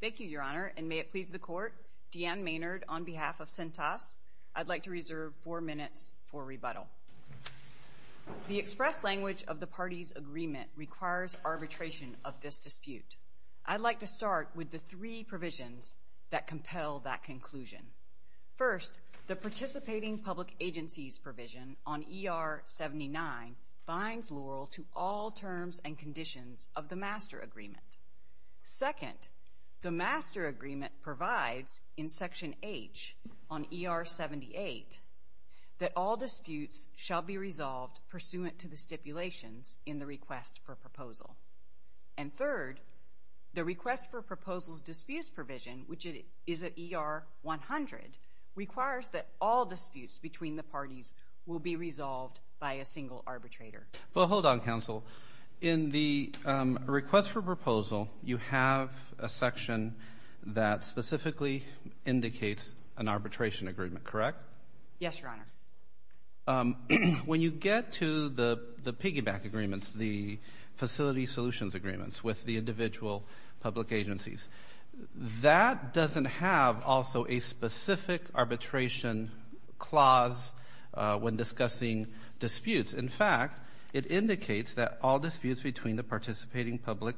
Thank you, Your Honor, and may it please the Court, D'Ann Maynard on behalf of Cintas, I'd like to reserve four minutes for rebuttal. The express language of the parties' agreement requires arbitration of this dispute. I'd like to start with the three provisions that compel that conclusion. First, the Participating Public Agencies provision on ER 79 binds Laurel to all terms and conditions of the Master Agreement. Second, the Master Agreement provides in Section H on ER 78 that all disputes shall be resolved pursuant to the stipulations in the Request for Proposal. And third, the Request for Proposal's Disputes provision, which is at ER 100, requires that all disputes between the parties will be resolved by a single arbitrator. Well, hold on, Counsel. In the Request for Proposal, you have a section that specifically indicates an arbitration agreement, correct? Yes, Your Honor. When you get to the piggyback agreements, the facility solutions agreements with the individual public agencies, that doesn't have also a specific arbitration clause when discussing disputes. In fact, it indicates that all disputes between the Participating Public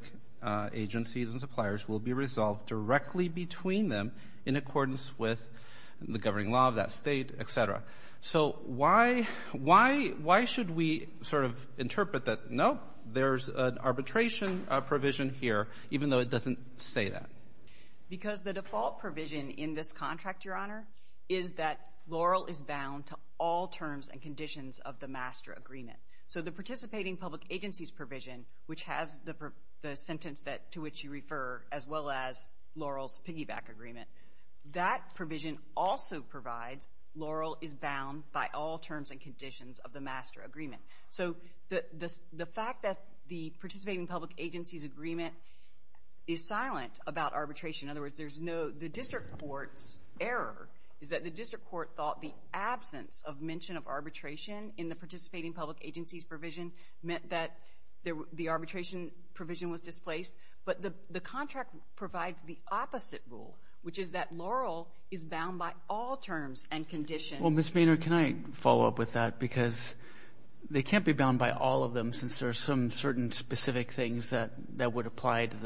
Agencies and suppliers will be resolved directly between them in accordance with the governing law of that state, et cetera. So why should we sort of interpret that, nope, there's an arbitration provision here, even though it doesn't say that? Because the default provision in this contract, Your Honor, is that Laurel is bound to all terms and conditions of the Master Agreement. So the Participating Public Agencies provision, which has the sentence to which you refer, as well as Laurel's piggyback agreement, that provision also provides Laurel is bound by all terms and conditions of the Master Agreement. So the fact that the Participating Public Agencies agreement is silent about arbitration, in other words, there's no, the district court's error is that the district court thought the absence of mention of arbitration in the Participating Public Agencies provision meant that the arbitration provision was displaced. But the contract provides the opposite rule, which is that Laurel is bound by all terms and conditions. Well, Ms. Boehner, can I follow up with that? Because they can't be bound by all of them since there are some certain specific things that would apply to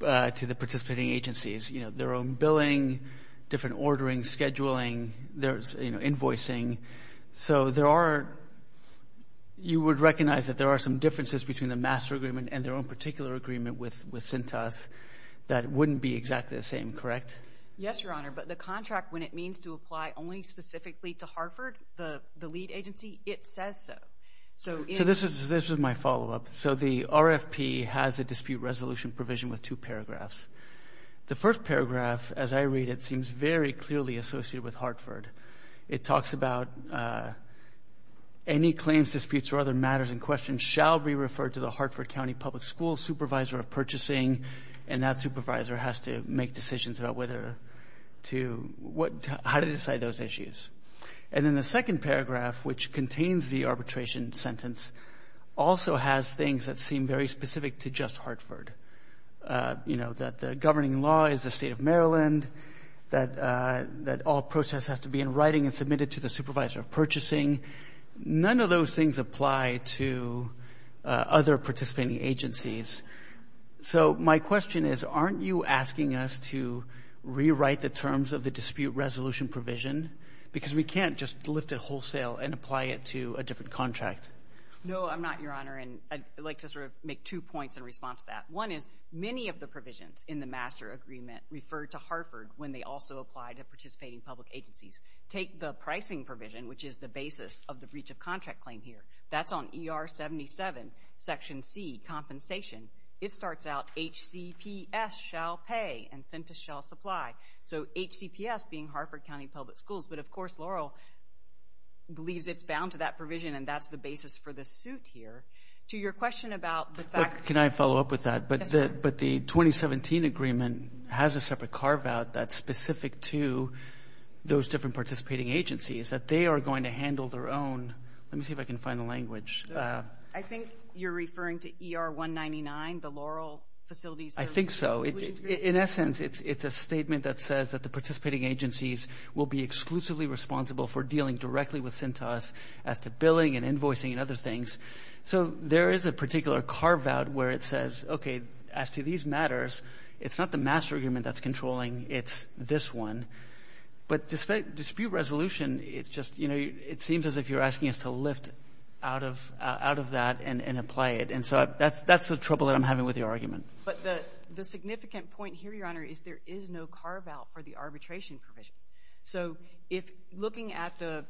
the participating agencies, you know, their own billing, different ordering, scheduling, there's, you know, invoicing. So there are, you would recognize that there are some differences between the Master Agreement and their own particular agreement with CINTAS that wouldn't be exactly the same, correct? Yes, Your Honor. But the contract, when it means to apply only specifically to Hartford, the lead agency, it says so. So this is my follow-up. So the RFP has a dispute resolution provision with two paragraphs. The first paragraph, as I read it, seems very clearly associated with Hartford. It talks about any claims, disputes, or other matters in question shall be referred to the Hartford County Public Schools Supervisor of Purchasing, and that supervisor has to make decisions about whether to, how to decide those issues. And then the second paragraph, which contains the arbitration sentence, also has things that seem very specific to just Hartford. You know, that the governing law is the State of Maryland, that all process has to be in writing and submitted to the Supervisor of Purchasing. None of those things apply to other participating agencies. So my question is, aren't you asking us to rewrite the terms of the dispute resolution provision? Because we can't just lift it wholesale and apply it to a different contract. No, I'm not, Your Honor, and I'd like to sort of make two points in response to that. One is, many of the provisions in the Master Agreement refer to Hartford when they also apply to participating public agencies. Take the pricing provision, which is the basis of the breach of contract claim here. That's on ER 77, Section C, Compensation. It starts out, H-C-P-S shall pay, and sentence shall supply. So H-C-P-S being Hartford County Public Schools. But, of course, Laurel believes it's bound to that provision, and that's the basis for the suit here. To your question about the fact that- Can I follow up with that? Yes, Your Honor. But the 2017 agreement has a separate carve-out that's specific to those different participating agencies, that they are going to handle their own-let me see if I can find the language. I think you're referring to ER 199, the Laurel facilities- I think so. In essence, it's a statement that says that the participating agencies will be exclusively responsible for dealing directly with CINTAS as to billing and invoicing and other things. So there is a particular carve-out where it says, okay, as to these matters, it's not the master agreement that's controlling. It's this one. But dispute resolution, it's just, you know, it seems as if you're asking us to lift out of that and apply it. And so that's the trouble that I'm having with your argument. But the significant point here, Your Honor, is there is no carve-out for the arbitration provision. So if looking at the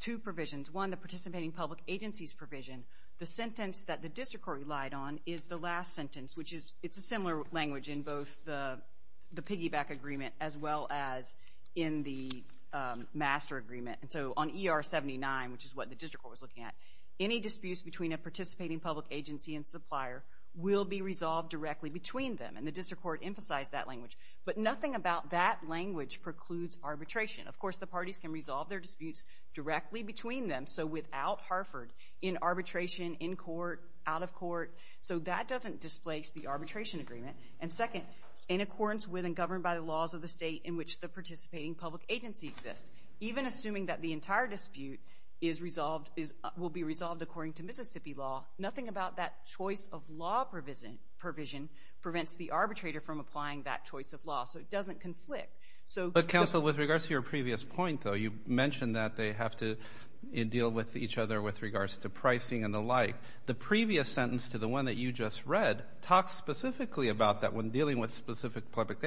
two provisions, one, the participating public agencies provision, the sentence that the district court relied on is the last sentence, which it's a similar language in both the piggyback agreement as well as in the master agreement. And so on ER 79, which is what the district court was looking at, any disputes between a participating public agency and supplier will be resolved directly between them, and the district court emphasized that language. But nothing about that language precludes arbitration. Of course, the parties can resolve their disputes directly between them, so without Harford, in arbitration, in court, out of court. So that doesn't displace the arbitration agreement. And second, in accordance with and governed by the laws of the state in which the participating public agency exists, even assuming that the entire dispute will be resolved according to Mississippi law, nothing about that choice of law provision prevents the arbitrator from applying that choice of law. So it doesn't conflict. But, counsel, with regards to your previous point, though, you mentioned that they have to deal with each other with regards to pricing and the like. The previous sentence to the one that you just read talks specifically about that when dealing with specific public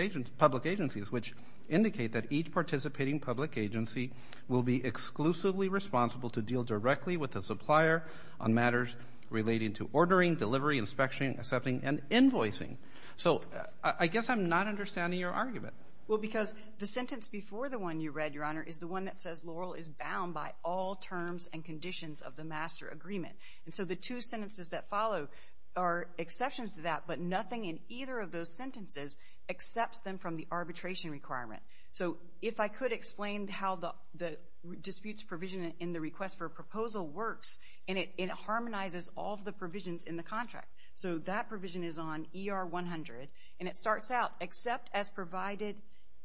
agencies, which indicate that each participating public agency will be exclusively responsible to deal directly with the supplier on matters relating to ordering, delivery, inspection, accepting, and invoicing. So I guess I'm not understanding your argument. Well, because the sentence before the one you read, Your Honor, is the one that says Laurel is bound by all terms and conditions of the master agreement. And so the two sentences that follow are exceptions to that, but nothing in either of those sentences accepts them from the arbitration requirement. So if I could explain how the disputes provision in the request for a proposal works, and it harmonizes all of the provisions in the contract. So that provision is on ER 100, and it starts out, except as provided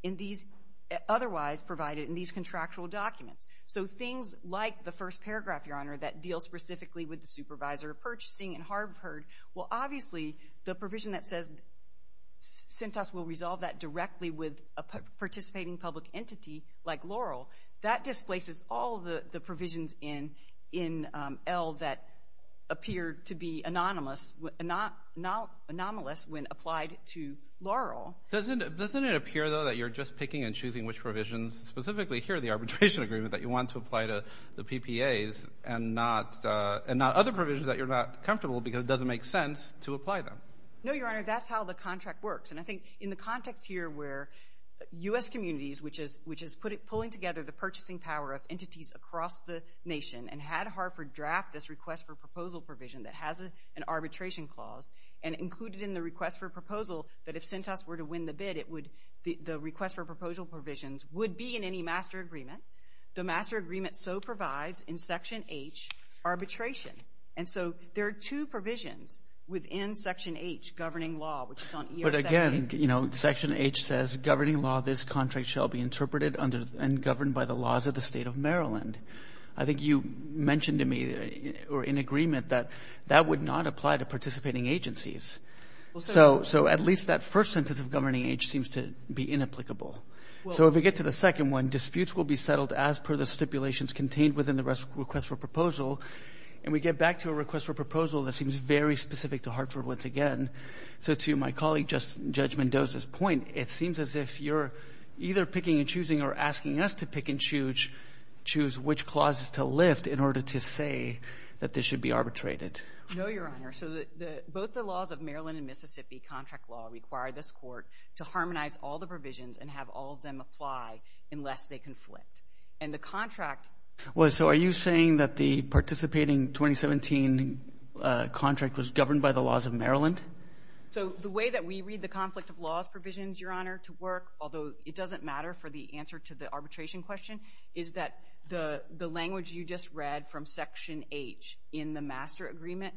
in these, otherwise provided in these contractual documents. So things like the first paragraph, Your Honor, that deals specifically with the supervisor of purchasing in Harvard, well, obviously the provision that says CENTAS will resolve that directly with a participating public entity like Laurel, that displaces all the provisions in L that appear to be anonymous, not anomalous when applied to Laurel. Doesn't it appear, though, that you're just picking and choosing which provisions, specifically here the arbitration agreement that you want to apply to the PPAs and not other provisions that you're not comfortable with because it doesn't make sense to apply them? No, Your Honor, that's how the contract works. And I think in the context here where U.S. communities, which is pulling together the purchasing power of entities across the nation and had Harvard draft this request for proposal provision that has an arbitration clause and included in the request for proposal that if CENTAS were to win the bid, the request for proposal provisions would be in any master agreement. The master agreement so provides in Section H arbitration. And so there are two provisions within Section H governing law, which is on ER-78. But again, you know, Section H says, Governing law of this contract shall be interpreted and governed by the laws of the state of Maryland. I think you mentioned to me or in agreement that that would not apply to participating agencies. So at least that first sentence of governing H seems to be inapplicable. So if we get to the second one, disputes will be settled as per the stipulations contained within the request for proposal. And we get back to a request for proposal that seems very specific to Hartford once again. So to my colleague Judge Mendoza's point, it seems as if you're either picking and choosing or asking us to pick and choose which clauses to lift in order to say that this should be arbitrated. No, Your Honor. So both the laws of Maryland and Mississippi contract law require this court to harmonize all the provisions and have all of them apply unless they conflict. And the contract Well, so are you saying that the participating 2017 contract was governed by the laws of Maryland? So the way that we read the conflict of laws provisions, Your Honor, to work, although it doesn't matter for the answer to the arbitration question, is that the language you just read from Section H in the master agreement,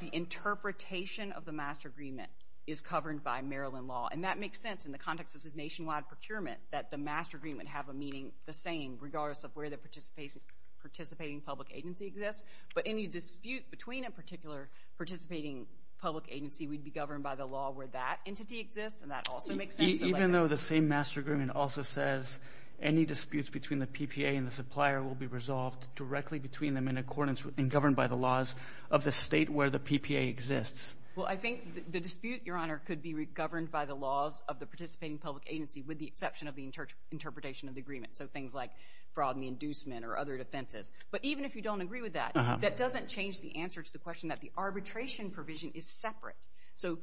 the interpretation of the master agreement is governed by Maryland law. And that makes sense in the context of this nationwide procurement, that the master agreement have a meaning the same regardless of where the participating public agency exists. But any dispute between a particular participating public agency would be governed by the law where that entity exists. And that also makes sense. Even though the same master agreement also says any disputes between the PPA and the supplier will be resolved directly between them in accordance and governed by the laws of the state where the PPA exists. Well, I think the dispute, Your Honor, could be governed by the laws of the participating public agency with the exception of the interpretation of the agreement. So things like fraud and the inducement or other defenses. But even if you don't agree with that, that doesn't change the answer to the question that the arbitration provision is separate. So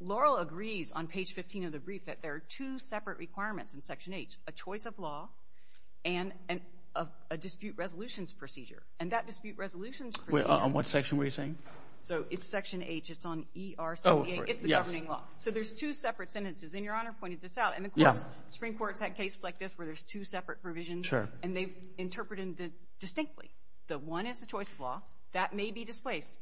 Laurel agrees on page 15 of the brief that there are two separate requirements in Section H, a choice of law and a dispute resolutions procedure. And that dispute resolutions procedure On what section were you saying? So it's Section H. It's on ERCPA. It's the governing law. So there's two separate sentences. And Your Honor pointed this out. And the Supreme Court has had cases like this where there's two separate provisions. And they've interpreted it distinctly. The one is the choice of law. That may be displaced.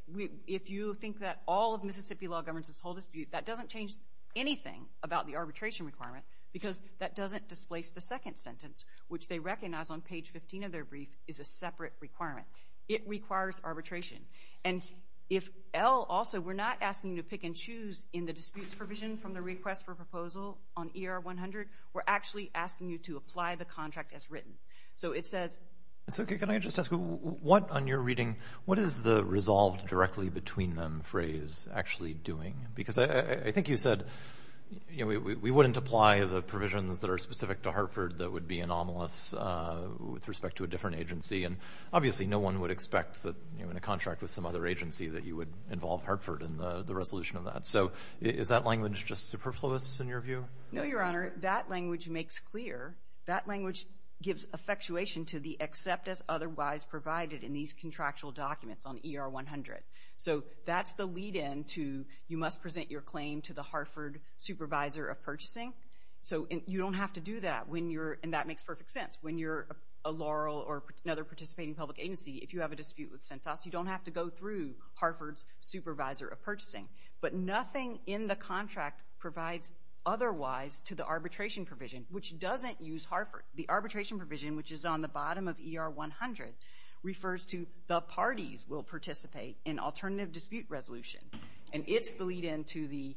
If you think that all of Mississippi law governs this whole dispute, that doesn't change anything about the arbitration requirement because that doesn't displace the second sentence, which they recognize on page 15 of their brief is a separate requirement. It requires arbitration. And if L also, we're not asking you to pick and choose in the disputes provision from the request for proposal on ER-100. We're actually asking you to apply the contract as written. So it says Can I just ask, what on your reading, what is the resolved directly between them phrase actually doing? Because I think you said, you know, we wouldn't apply the provisions that are specific to Hartford that would be anomalous with respect to a different agency. And obviously no one would expect that in a contract with some other agency that you would involve Hartford in the resolution of that. So is that language just superfluous in your view? No, Your Honor. That language makes clear. That language gives effectuation to the except as otherwise provided in these contractual documents on ER-100. So that's the lead-in to you must present your claim to the Hartford supervisor of purchasing. So you don't have to do that when you're, and that makes perfect sense, when you're a Laurel or another participating public agency. If you have a dispute with Centos, you don't have to go through Hartford's supervisor of purchasing. But nothing in the contract provides otherwise to the arbitration provision, which doesn't use Hartford. The arbitration provision, which is on the bottom of ER-100, refers to the parties will participate in alternative dispute resolution. And it's the lead-in to the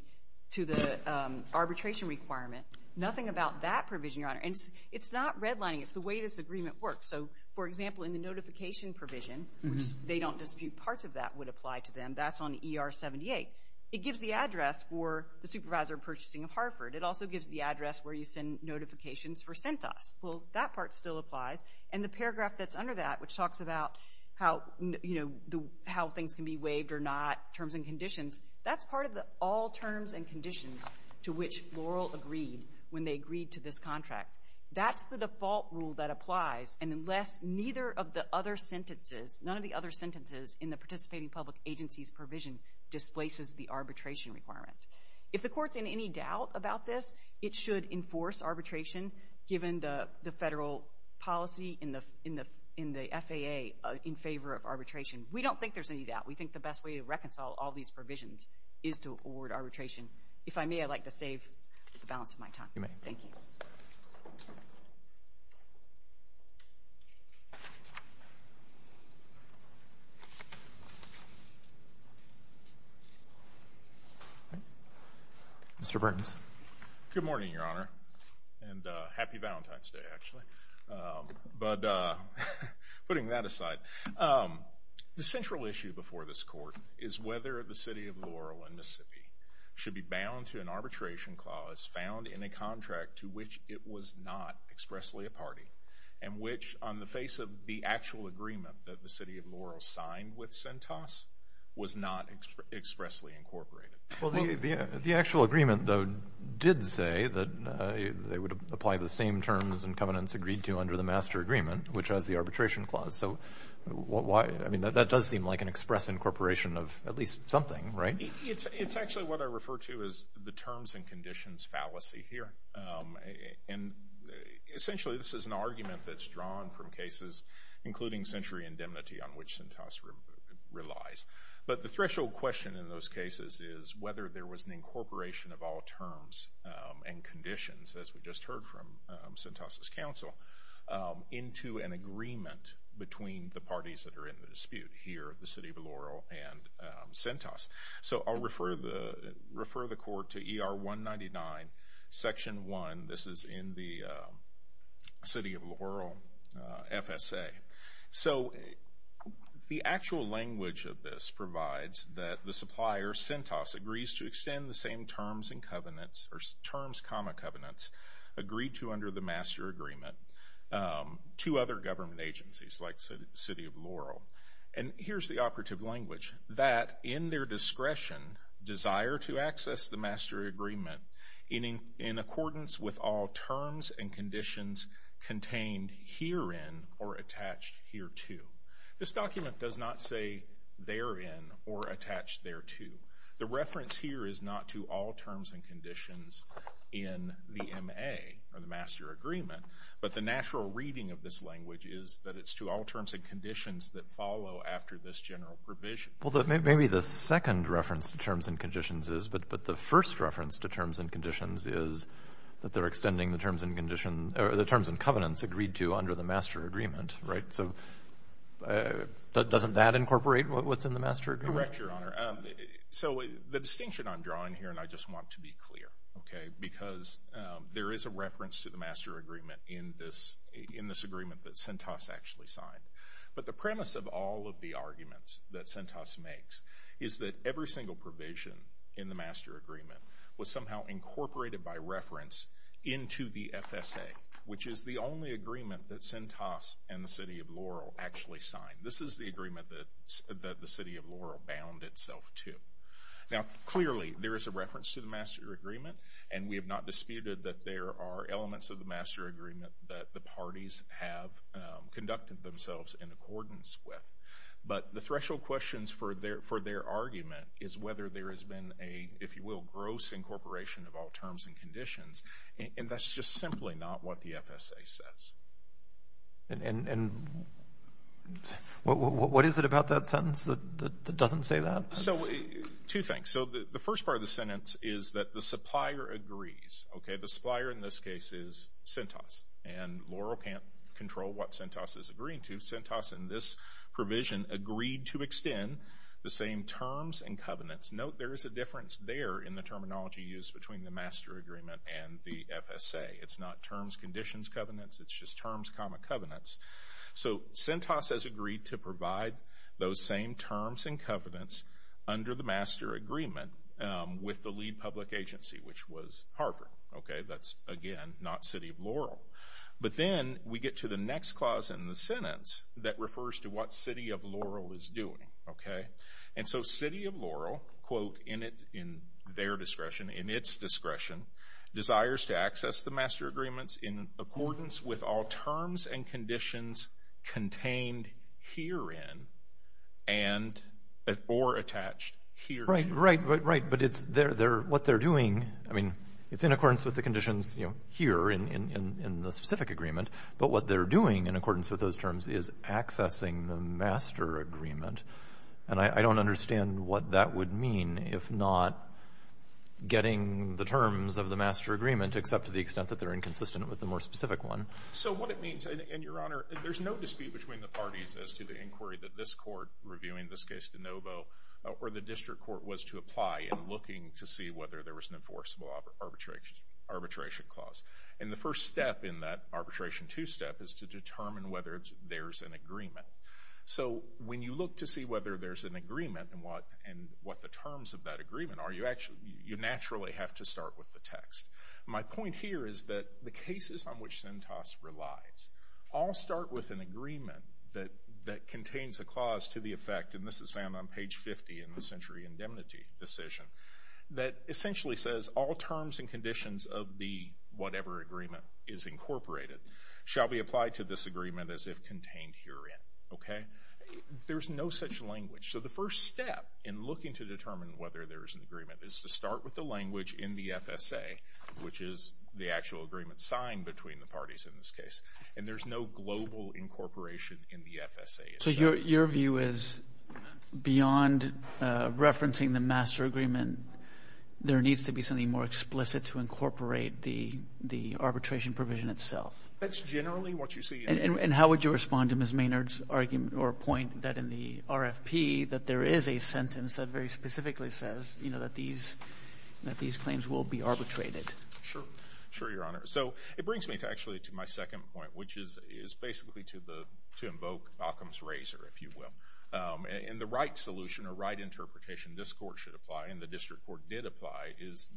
arbitration requirement. Nothing about that provision, Your Honor. And it's not redlining. It's the way this agreement works. So, for example, in the notification provision, which they don't dispute parts of that would apply to them, that's on ER-78. It gives the address for the supervisor of purchasing of Hartford. It also gives the address where you send notifications for Centos. Well, that part still applies. And the paragraph that's under that, which talks about how, you know, how things can be waived or not, terms and conditions, that's part of the all terms and conditions to which Laurel agreed when they agreed to this contract. That's the default rule that applies, and unless neither of the other sentences, none of the other sentences in the participating public agency's provision displaces the arbitration requirement. If the Court's in any doubt about this, it should enforce arbitration given the federal policy in the FAA in favor of arbitration. We don't think there's any doubt. We think the best way to reconcile all these provisions is to award arbitration. If I may, I'd like to save the balance of my time. You may. Thank you. Mr. Burtons. Good morning, Your Honor, and happy Valentine's Day, actually. But putting that aside, the central issue before this Court is whether the city of Laurel in Mississippi should be bound to an arbitration clause found in a contract to which it was not expressly a party and which on the face of the actual agreement that the city of Laurel signed with Centos was not expressly incorporated. Well, the actual agreement, though, did say that they would apply the same terms and covenants agreed to under the master agreement, which has the arbitration clause. So why? I mean, that does seem like an express incorporation of at least something, right? It's actually what I refer to as the terms and conditions fallacy here. And essentially this is an argument that's drawn from cases, including century indemnity, on which Centos relies. But the threshold question in those cases is whether there was an incorporation of all terms and conditions, as we just heard from Centos' counsel, into an agreement between the parties that are in the dispute here, the city of Laurel and Centos. So I'll refer the Court to ER 199, Section 1. This is in the city of Laurel FSA. So the actual language of this provides that the supplier, Centos, agrees to extend the same terms and covenants, or terms, comma, covenants, agreed to under the master agreement to other government agencies, like the city of Laurel. And here's the operative language. That in their discretion, desire to access the master agreement in accordance with all terms and conditions contained herein or attached hereto. This document does not say therein or attached thereto. The reference here is not to all terms and conditions in the MA, or the master agreement, but the natural reading of this language is that it's to all terms and conditions that follow after this general provision. Well, maybe the second reference to terms and conditions is, but the first reference to terms and conditions is that they're extending the terms and conditions, or the terms and covenants agreed to under the master agreement, right? So doesn't that incorporate what's in the master agreement? Correct, Your Honor. So the distinction I'm drawing here, and I just want to be clear, okay, because there is a reference to the master agreement in this agreement that Centos actually signed. But the premise of all of the arguments that Centos makes is that every single provision in the master agreement was somehow incorporated by reference into the FSA, which is the only agreement that Centos and the city of Laurel actually signed. This is the agreement that the city of Laurel bound itself to. Now, clearly there is a reference to the master agreement, and we have not disputed that there are elements of the master agreement that the parties have conducted themselves in accordance with. But the threshold questions for their argument is whether there has been a, if you will, gross incorporation of all terms and conditions, and that's just simply not what the FSA says. And what is it about that sentence that doesn't say that? So two things. So the first part of the sentence is that the supplier agrees. Okay, the supplier in this case is Centos, and Laurel can't control what Centos is agreeing to. Centos in this provision agreed to extend the same terms and covenants. Note there is a difference there in the terminology used between the master agreement and the FSA. It's not terms, conditions, covenants. It's just terms, comma, covenants. So Centos has agreed to provide those same terms and covenants under the master agreement with the lead public agency, which was Harvard. Okay, that's, again, not City of Laurel. But then we get to the next clause in the sentence that refers to what City of Laurel is doing. And so City of Laurel, quote, in their discretion, in its discretion, desires to access the master agreements in accordance with all terms and conditions contained herein and or attached herein. Right, right, right. But what they're doing, I mean, it's in accordance with the conditions here in the specific agreement. But what they're doing in accordance with those terms is accessing the master agreement. And I don't understand what that would mean if not getting the terms of the master agreement, except to the extent that they're inconsistent with the more specific one. So what it means, and, Your Honor, there's no dispute between the parties as to the inquiry that this court reviewing this case de novo or the district court was to apply in looking to see whether there was an enforceable arbitration clause. And the first step in that arbitration two-step is to determine whether there's an agreement. So when you look to see whether there's an agreement and what the terms of that agreement are, you naturally have to start with the text. My point here is that the cases on which Centos relies all start with an agreement that contains a clause to the effect, and this is found on page 50 in the Century Indemnity Decision, that essentially says all terms and conditions of the whatever agreement is incorporated shall be applied to this agreement as if contained herein. There's no such language. So the first step in looking to determine whether there is an agreement is to start with the language in the FSA, which is the actual agreement signed between the parties in this case. And there's no global incorporation in the FSA. So your view is beyond referencing the master agreement, there needs to be something more explicit to incorporate the arbitration provision itself. That's generally what you see. And how would you respond to Ms. Maynard's argument or point that in the RFP that there is a sentence that very specifically says that these claims will be arbitrated? Sure. Sure, Your Honor. So it brings me actually to my second point, which is basically to invoke Occam's razor, if you will. And the right solution or right interpretation this court should apply and the district court did apply is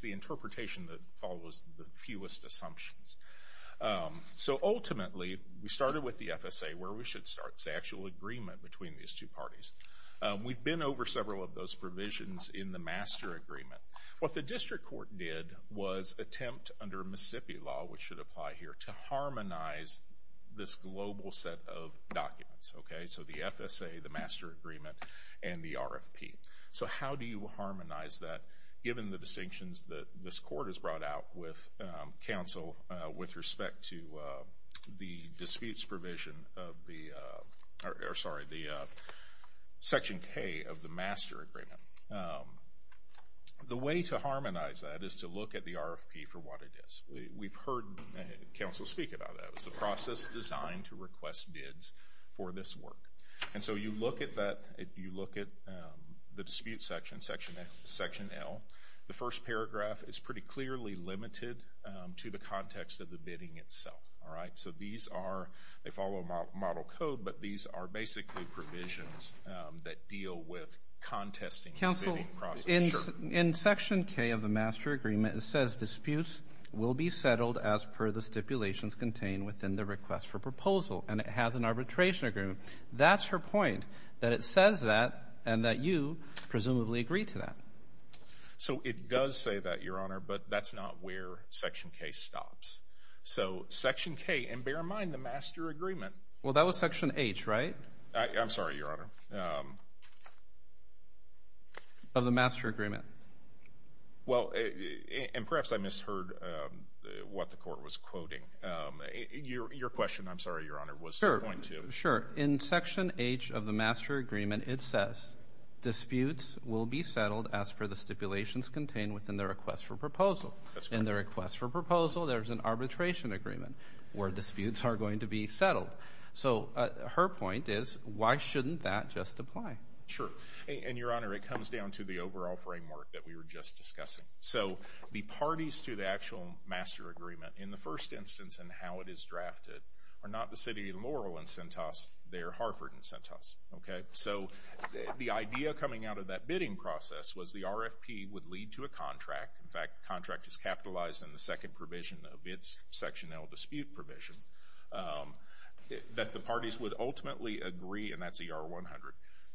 the interpretation that follows the fewest assumptions. So ultimately, we started with the FSA where we should start, the actual agreement between these two parties. We've been over several of those provisions in the master agreement. What the district court did was attempt under Mississippi law, which should apply here, to harmonize this global set of documents. So the FSA, the master agreement, and the RFP. So how do you harmonize that given the distinctions that this court has brought out with counsel with respect to the disputes provision of the section K of the master agreement? The way to harmonize that is to look at the RFP for what it is. We've heard counsel speak about that. It was a process designed to request bids for this work. And so you look at that, you look at the dispute section, section L. The first paragraph is pretty clearly limited to the context of the bidding itself. So these are, they follow model code, but these are basically provisions that deal with contesting the bidding process. Counsel, in section K of the master agreement, it says disputes will be settled as per the stipulations contained within the request for proposal. And it has an arbitration agreement. That's her point, that it says that and that you presumably agree to that. So it does say that, Your Honor, but that's not where section K stops. So section K, and bear in mind the master agreement. Well, that was section H, right? I'm sorry, Your Honor. Of the master agreement. Well, and perhaps I misheard what the court was quoting. Your question, I'm sorry, Your Honor, was to point to. Sure. In section H of the master agreement, it says disputes will be settled as per the stipulations contained within the request for proposal. That's correct. In the request for proposal, there's an arbitration agreement where disputes are going to be settled. So her point is why shouldn't that just apply? Sure. And, Your Honor, it comes down to the overall framework that we were just discussing. So the parties to the actual master agreement in the first instance and how it is drafted are not the city of Laurel and Centos. They are Harford and Centos. Okay? So the idea coming out of that bidding process was the RFP would lead to a contract. In fact, the contract is capitalized in the second provision of its section L dispute provision that the parties would ultimately agree, and that's ER 100,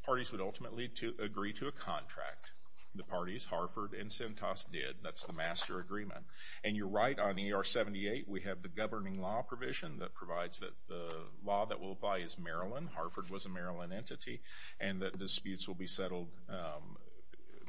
parties would ultimately agree to a contract. The parties, Harford and Centos, did. That's the master agreement. And you're right on ER 78. We have the governing law provision that provides that the law that will apply is Maryland. Harford was a Maryland entity. And that disputes will be settled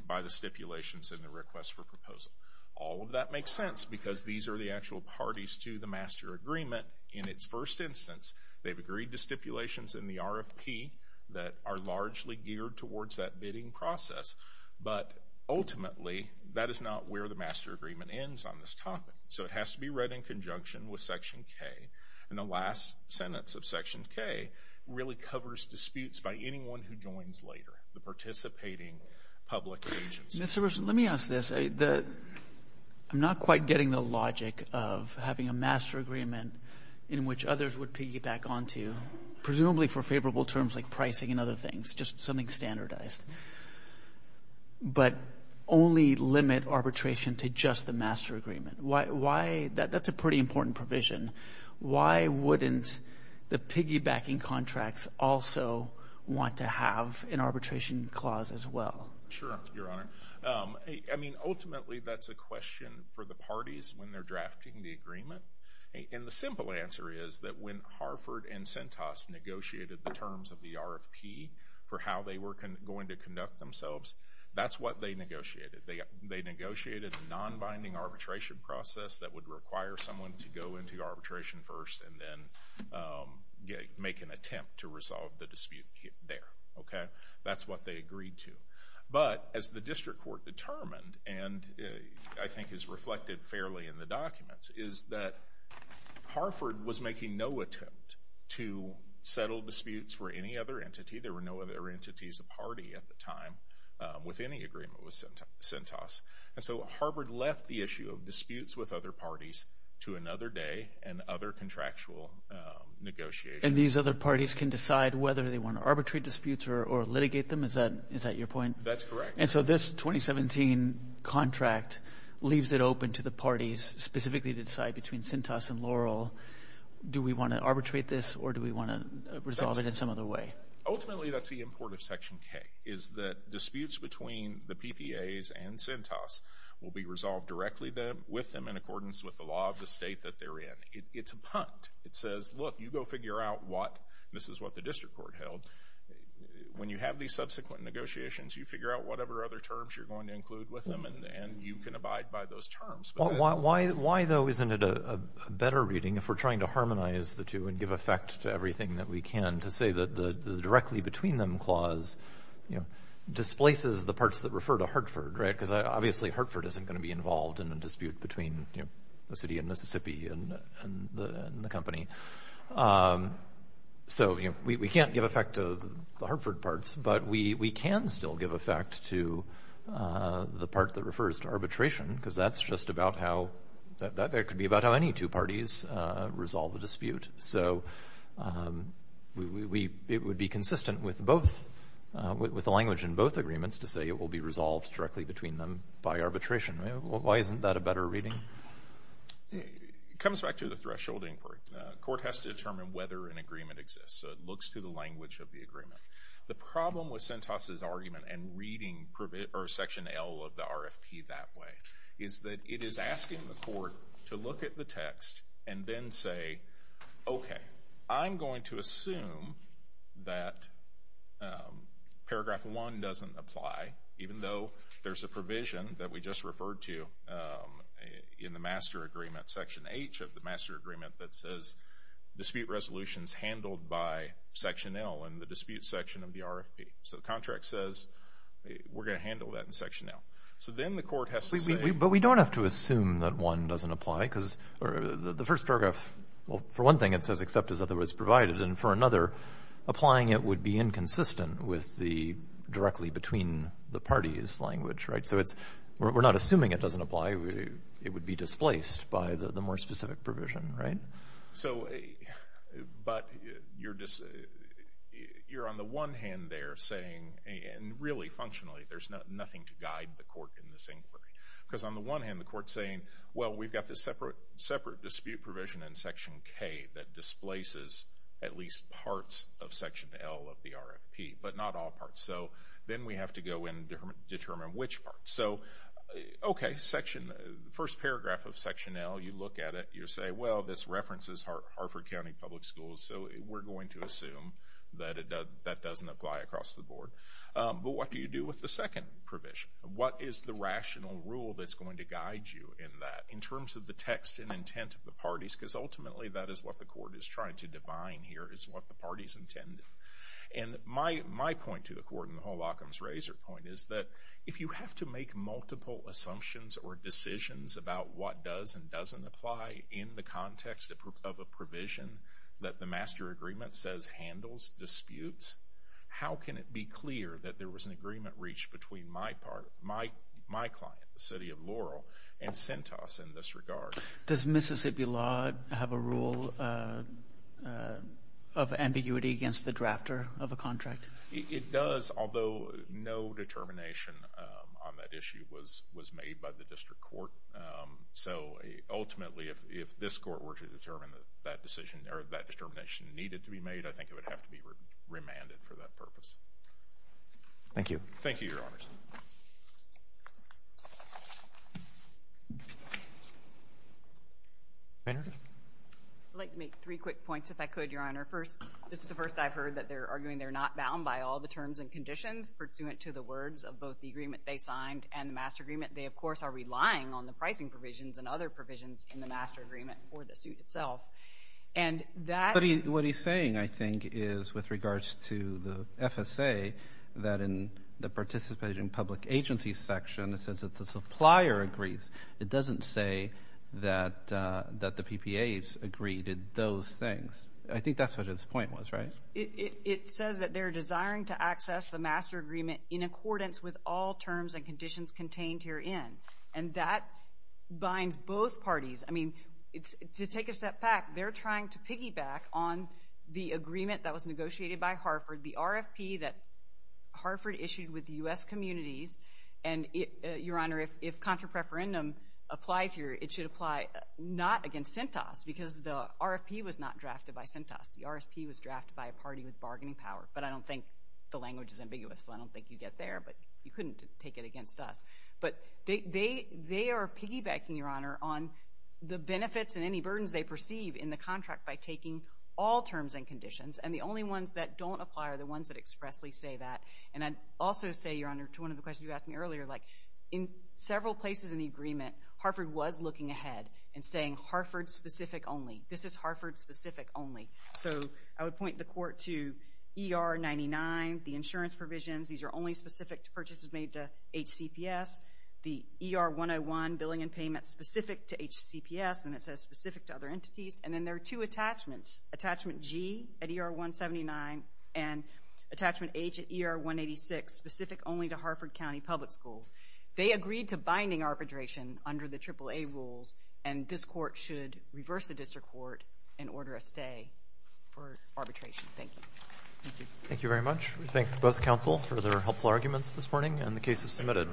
by the stipulations in the request for proposal. All of that makes sense because these are the actual parties to the master agreement in its first instance. They've agreed to stipulations in the RFP that are largely geared towards that bidding process, but ultimately that is not where the master agreement ends on this topic. So it has to be read in conjunction with Section K. And the last sentence of Section K really covers disputes by anyone who joins later, the participating public agencies. Mr. Wilson, let me ask this. I'm not quite getting the logic of having a master agreement in which others would piggyback onto, presumably for favorable terms like pricing and other things, just something standardized, but only limit arbitration to just the master agreement. Why? That's a pretty important provision. Why wouldn't the piggybacking contracts also want to have an arbitration clause as well? Sure, Your Honor. I mean, ultimately that's a question for the parties when they're drafting the agreement. And the simple answer is that when Harford and Centos negotiated the terms of the RFP for how they were going to conduct themselves, that's what they negotiated. They negotiated a non-binding arbitration process that would require someone to go into arbitration first and then make an attempt to resolve the dispute there. That's what they agreed to. But as the district court determined, and I think is reflected fairly in the documents, is that Harford was making no attempt to settle disputes for any other entity. There were no other entities of party at the time with any agreement with Centos. And so Harford left the issue of disputes with other parties to another day and other contractual negotiations. And these other parties can decide whether they want arbitrary disputes or litigate them? Is that your point? That's correct. And so this 2017 contract leaves it open to the parties specifically to decide between Centos and Laurel, do we want to arbitrate this or do we want to resolve it in some other way? Ultimately, that's the import of Section K, is that disputes between the PPAs and Centos will be resolved directly with them in accordance with the law of the state that they're in. It's a punt. It says, look, you go figure out what, this is what the district court held. When you have these subsequent negotiations, you figure out whatever other terms you're going to include with them and you can abide by those terms. Why, though, isn't it a better reading if we're trying to harmonize the two and give effect to everything that we can to say that the directly between them clause, you know, displaces the parts that refer to Hartford, right? Because obviously Hartford isn't going to be involved in a dispute between, you know, the city of Mississippi and the company. So, you know, we can't give effect to the Hartford parts, but we can still give effect to the part that refers to arbitration because that's just about how, that could be about how any two parties resolve a dispute. So it would be consistent with both, with the language in both agreements to say it will be resolved directly between them by arbitration. Why isn't that a better reading? It comes back to the thresholding part. The court has to determine whether an agreement exists, so it looks to the language of the agreement. The problem with Sentosa's argument and reading Section L of the RFP that way is that it is asking the court to look at the text and then say, okay, I'm going to assume that Paragraph 1 doesn't apply, even though there's a provision that we just referred to in the master agreement, Section H of the master agreement, that says dispute resolution is handled by Section L in the dispute section of the RFP. So the contract says we're going to handle that in Section L. So then the court has to say. But we don't have to assume that 1 doesn't apply because the first paragraph, well, for one thing it says except as otherwise provided, and for another applying it would be inconsistent with the directly between the parties language. So we're not assuming it doesn't apply. It would be displaced by the more specific provision. But you're on the one hand there saying, and really functionally, there's nothing to guide the court in this inquiry, but we've got this separate dispute provision in Section K that displaces at least parts of Section L of the RFP, but not all parts. So then we have to go in and determine which parts. So, okay, the first paragraph of Section L, you look at it, you say, well, this references Hartford County Public Schools, so we're going to assume that that doesn't apply across the board. But what do you do with the second provision? What is the rational rule that's going to guide you in that, in terms of the text and intent of the parties? Because ultimately that is what the court is trying to divine here, is what the parties intended. And my point to the court, and the whole Occam's razor point, is that if you have to make multiple assumptions or decisions about what does and doesn't apply in the context of a provision that the master agreement says handles disputes, how can it be clear that there was an agreement reached between my client, the city of Laurel, and Centos in this regard? Does Mississippi law have a rule of ambiguity against the drafter of a contract? It does, although no determination on that issue was made by the district court. So ultimately if this court were to determine that that determination needed to be made, I think it would have to be remanded for that purpose. Thank you. Thank you, Your Honors. Maynard? I'd like to make three quick points, if I could, Your Honor. First, this is the first I've heard that they're arguing they're not bound by all the terms and conditions pursuant to the words of both the agreement they signed and the master agreement. They, of course, are relying on the pricing provisions and other provisions in the master agreement for the suit itself. What he's saying, I think, is with regards to the FSA, that in the participating public agency section, since it's a supplier agrees, it doesn't say that the PPAs agree to those things. I think that's what his point was, right? It says that they're desiring to access the master agreement in accordance with all terms and conditions contained herein. And that binds both parties. I mean, to take a step back, they're trying to piggyback on the agreement that was negotiated by Harford, the RFP that Harford issued with the U.S. communities. And, Your Honor, if contra preferendum applies here, it should apply not against CENTAS because the RFP was not drafted by CENTAS. The RFP was drafted by a party with bargaining power. But I don't think the language is ambiguous, so I don't think you get there. But you couldn't take it against us. But they are piggybacking, Your Honor, on the benefits and any burdens they perceive in the contract by taking all terms and conditions. And the only ones that don't apply are the ones that expressly say that. And I'd also say, Your Honor, to one of the questions you asked me earlier, like in several places in the agreement, Harford was looking ahead and saying Harford-specific only. This is Harford-specific only. So I would point the court to ER-99, the insurance provisions. These are only specific to purchases made to HCPS. The ER-101, billing and payment specific to HCPS, and it says specific to other entities. And then there are two attachments, attachment G at ER-179 and attachment H at ER-186, specific only to Harford County Public Schools. They agreed to binding arbitration under the AAA rules, and this court should reverse the district court and order a stay for arbitration. Thank you. Thank you very much. We thank both counsel for their helpful arguments this morning, and the case is submitted.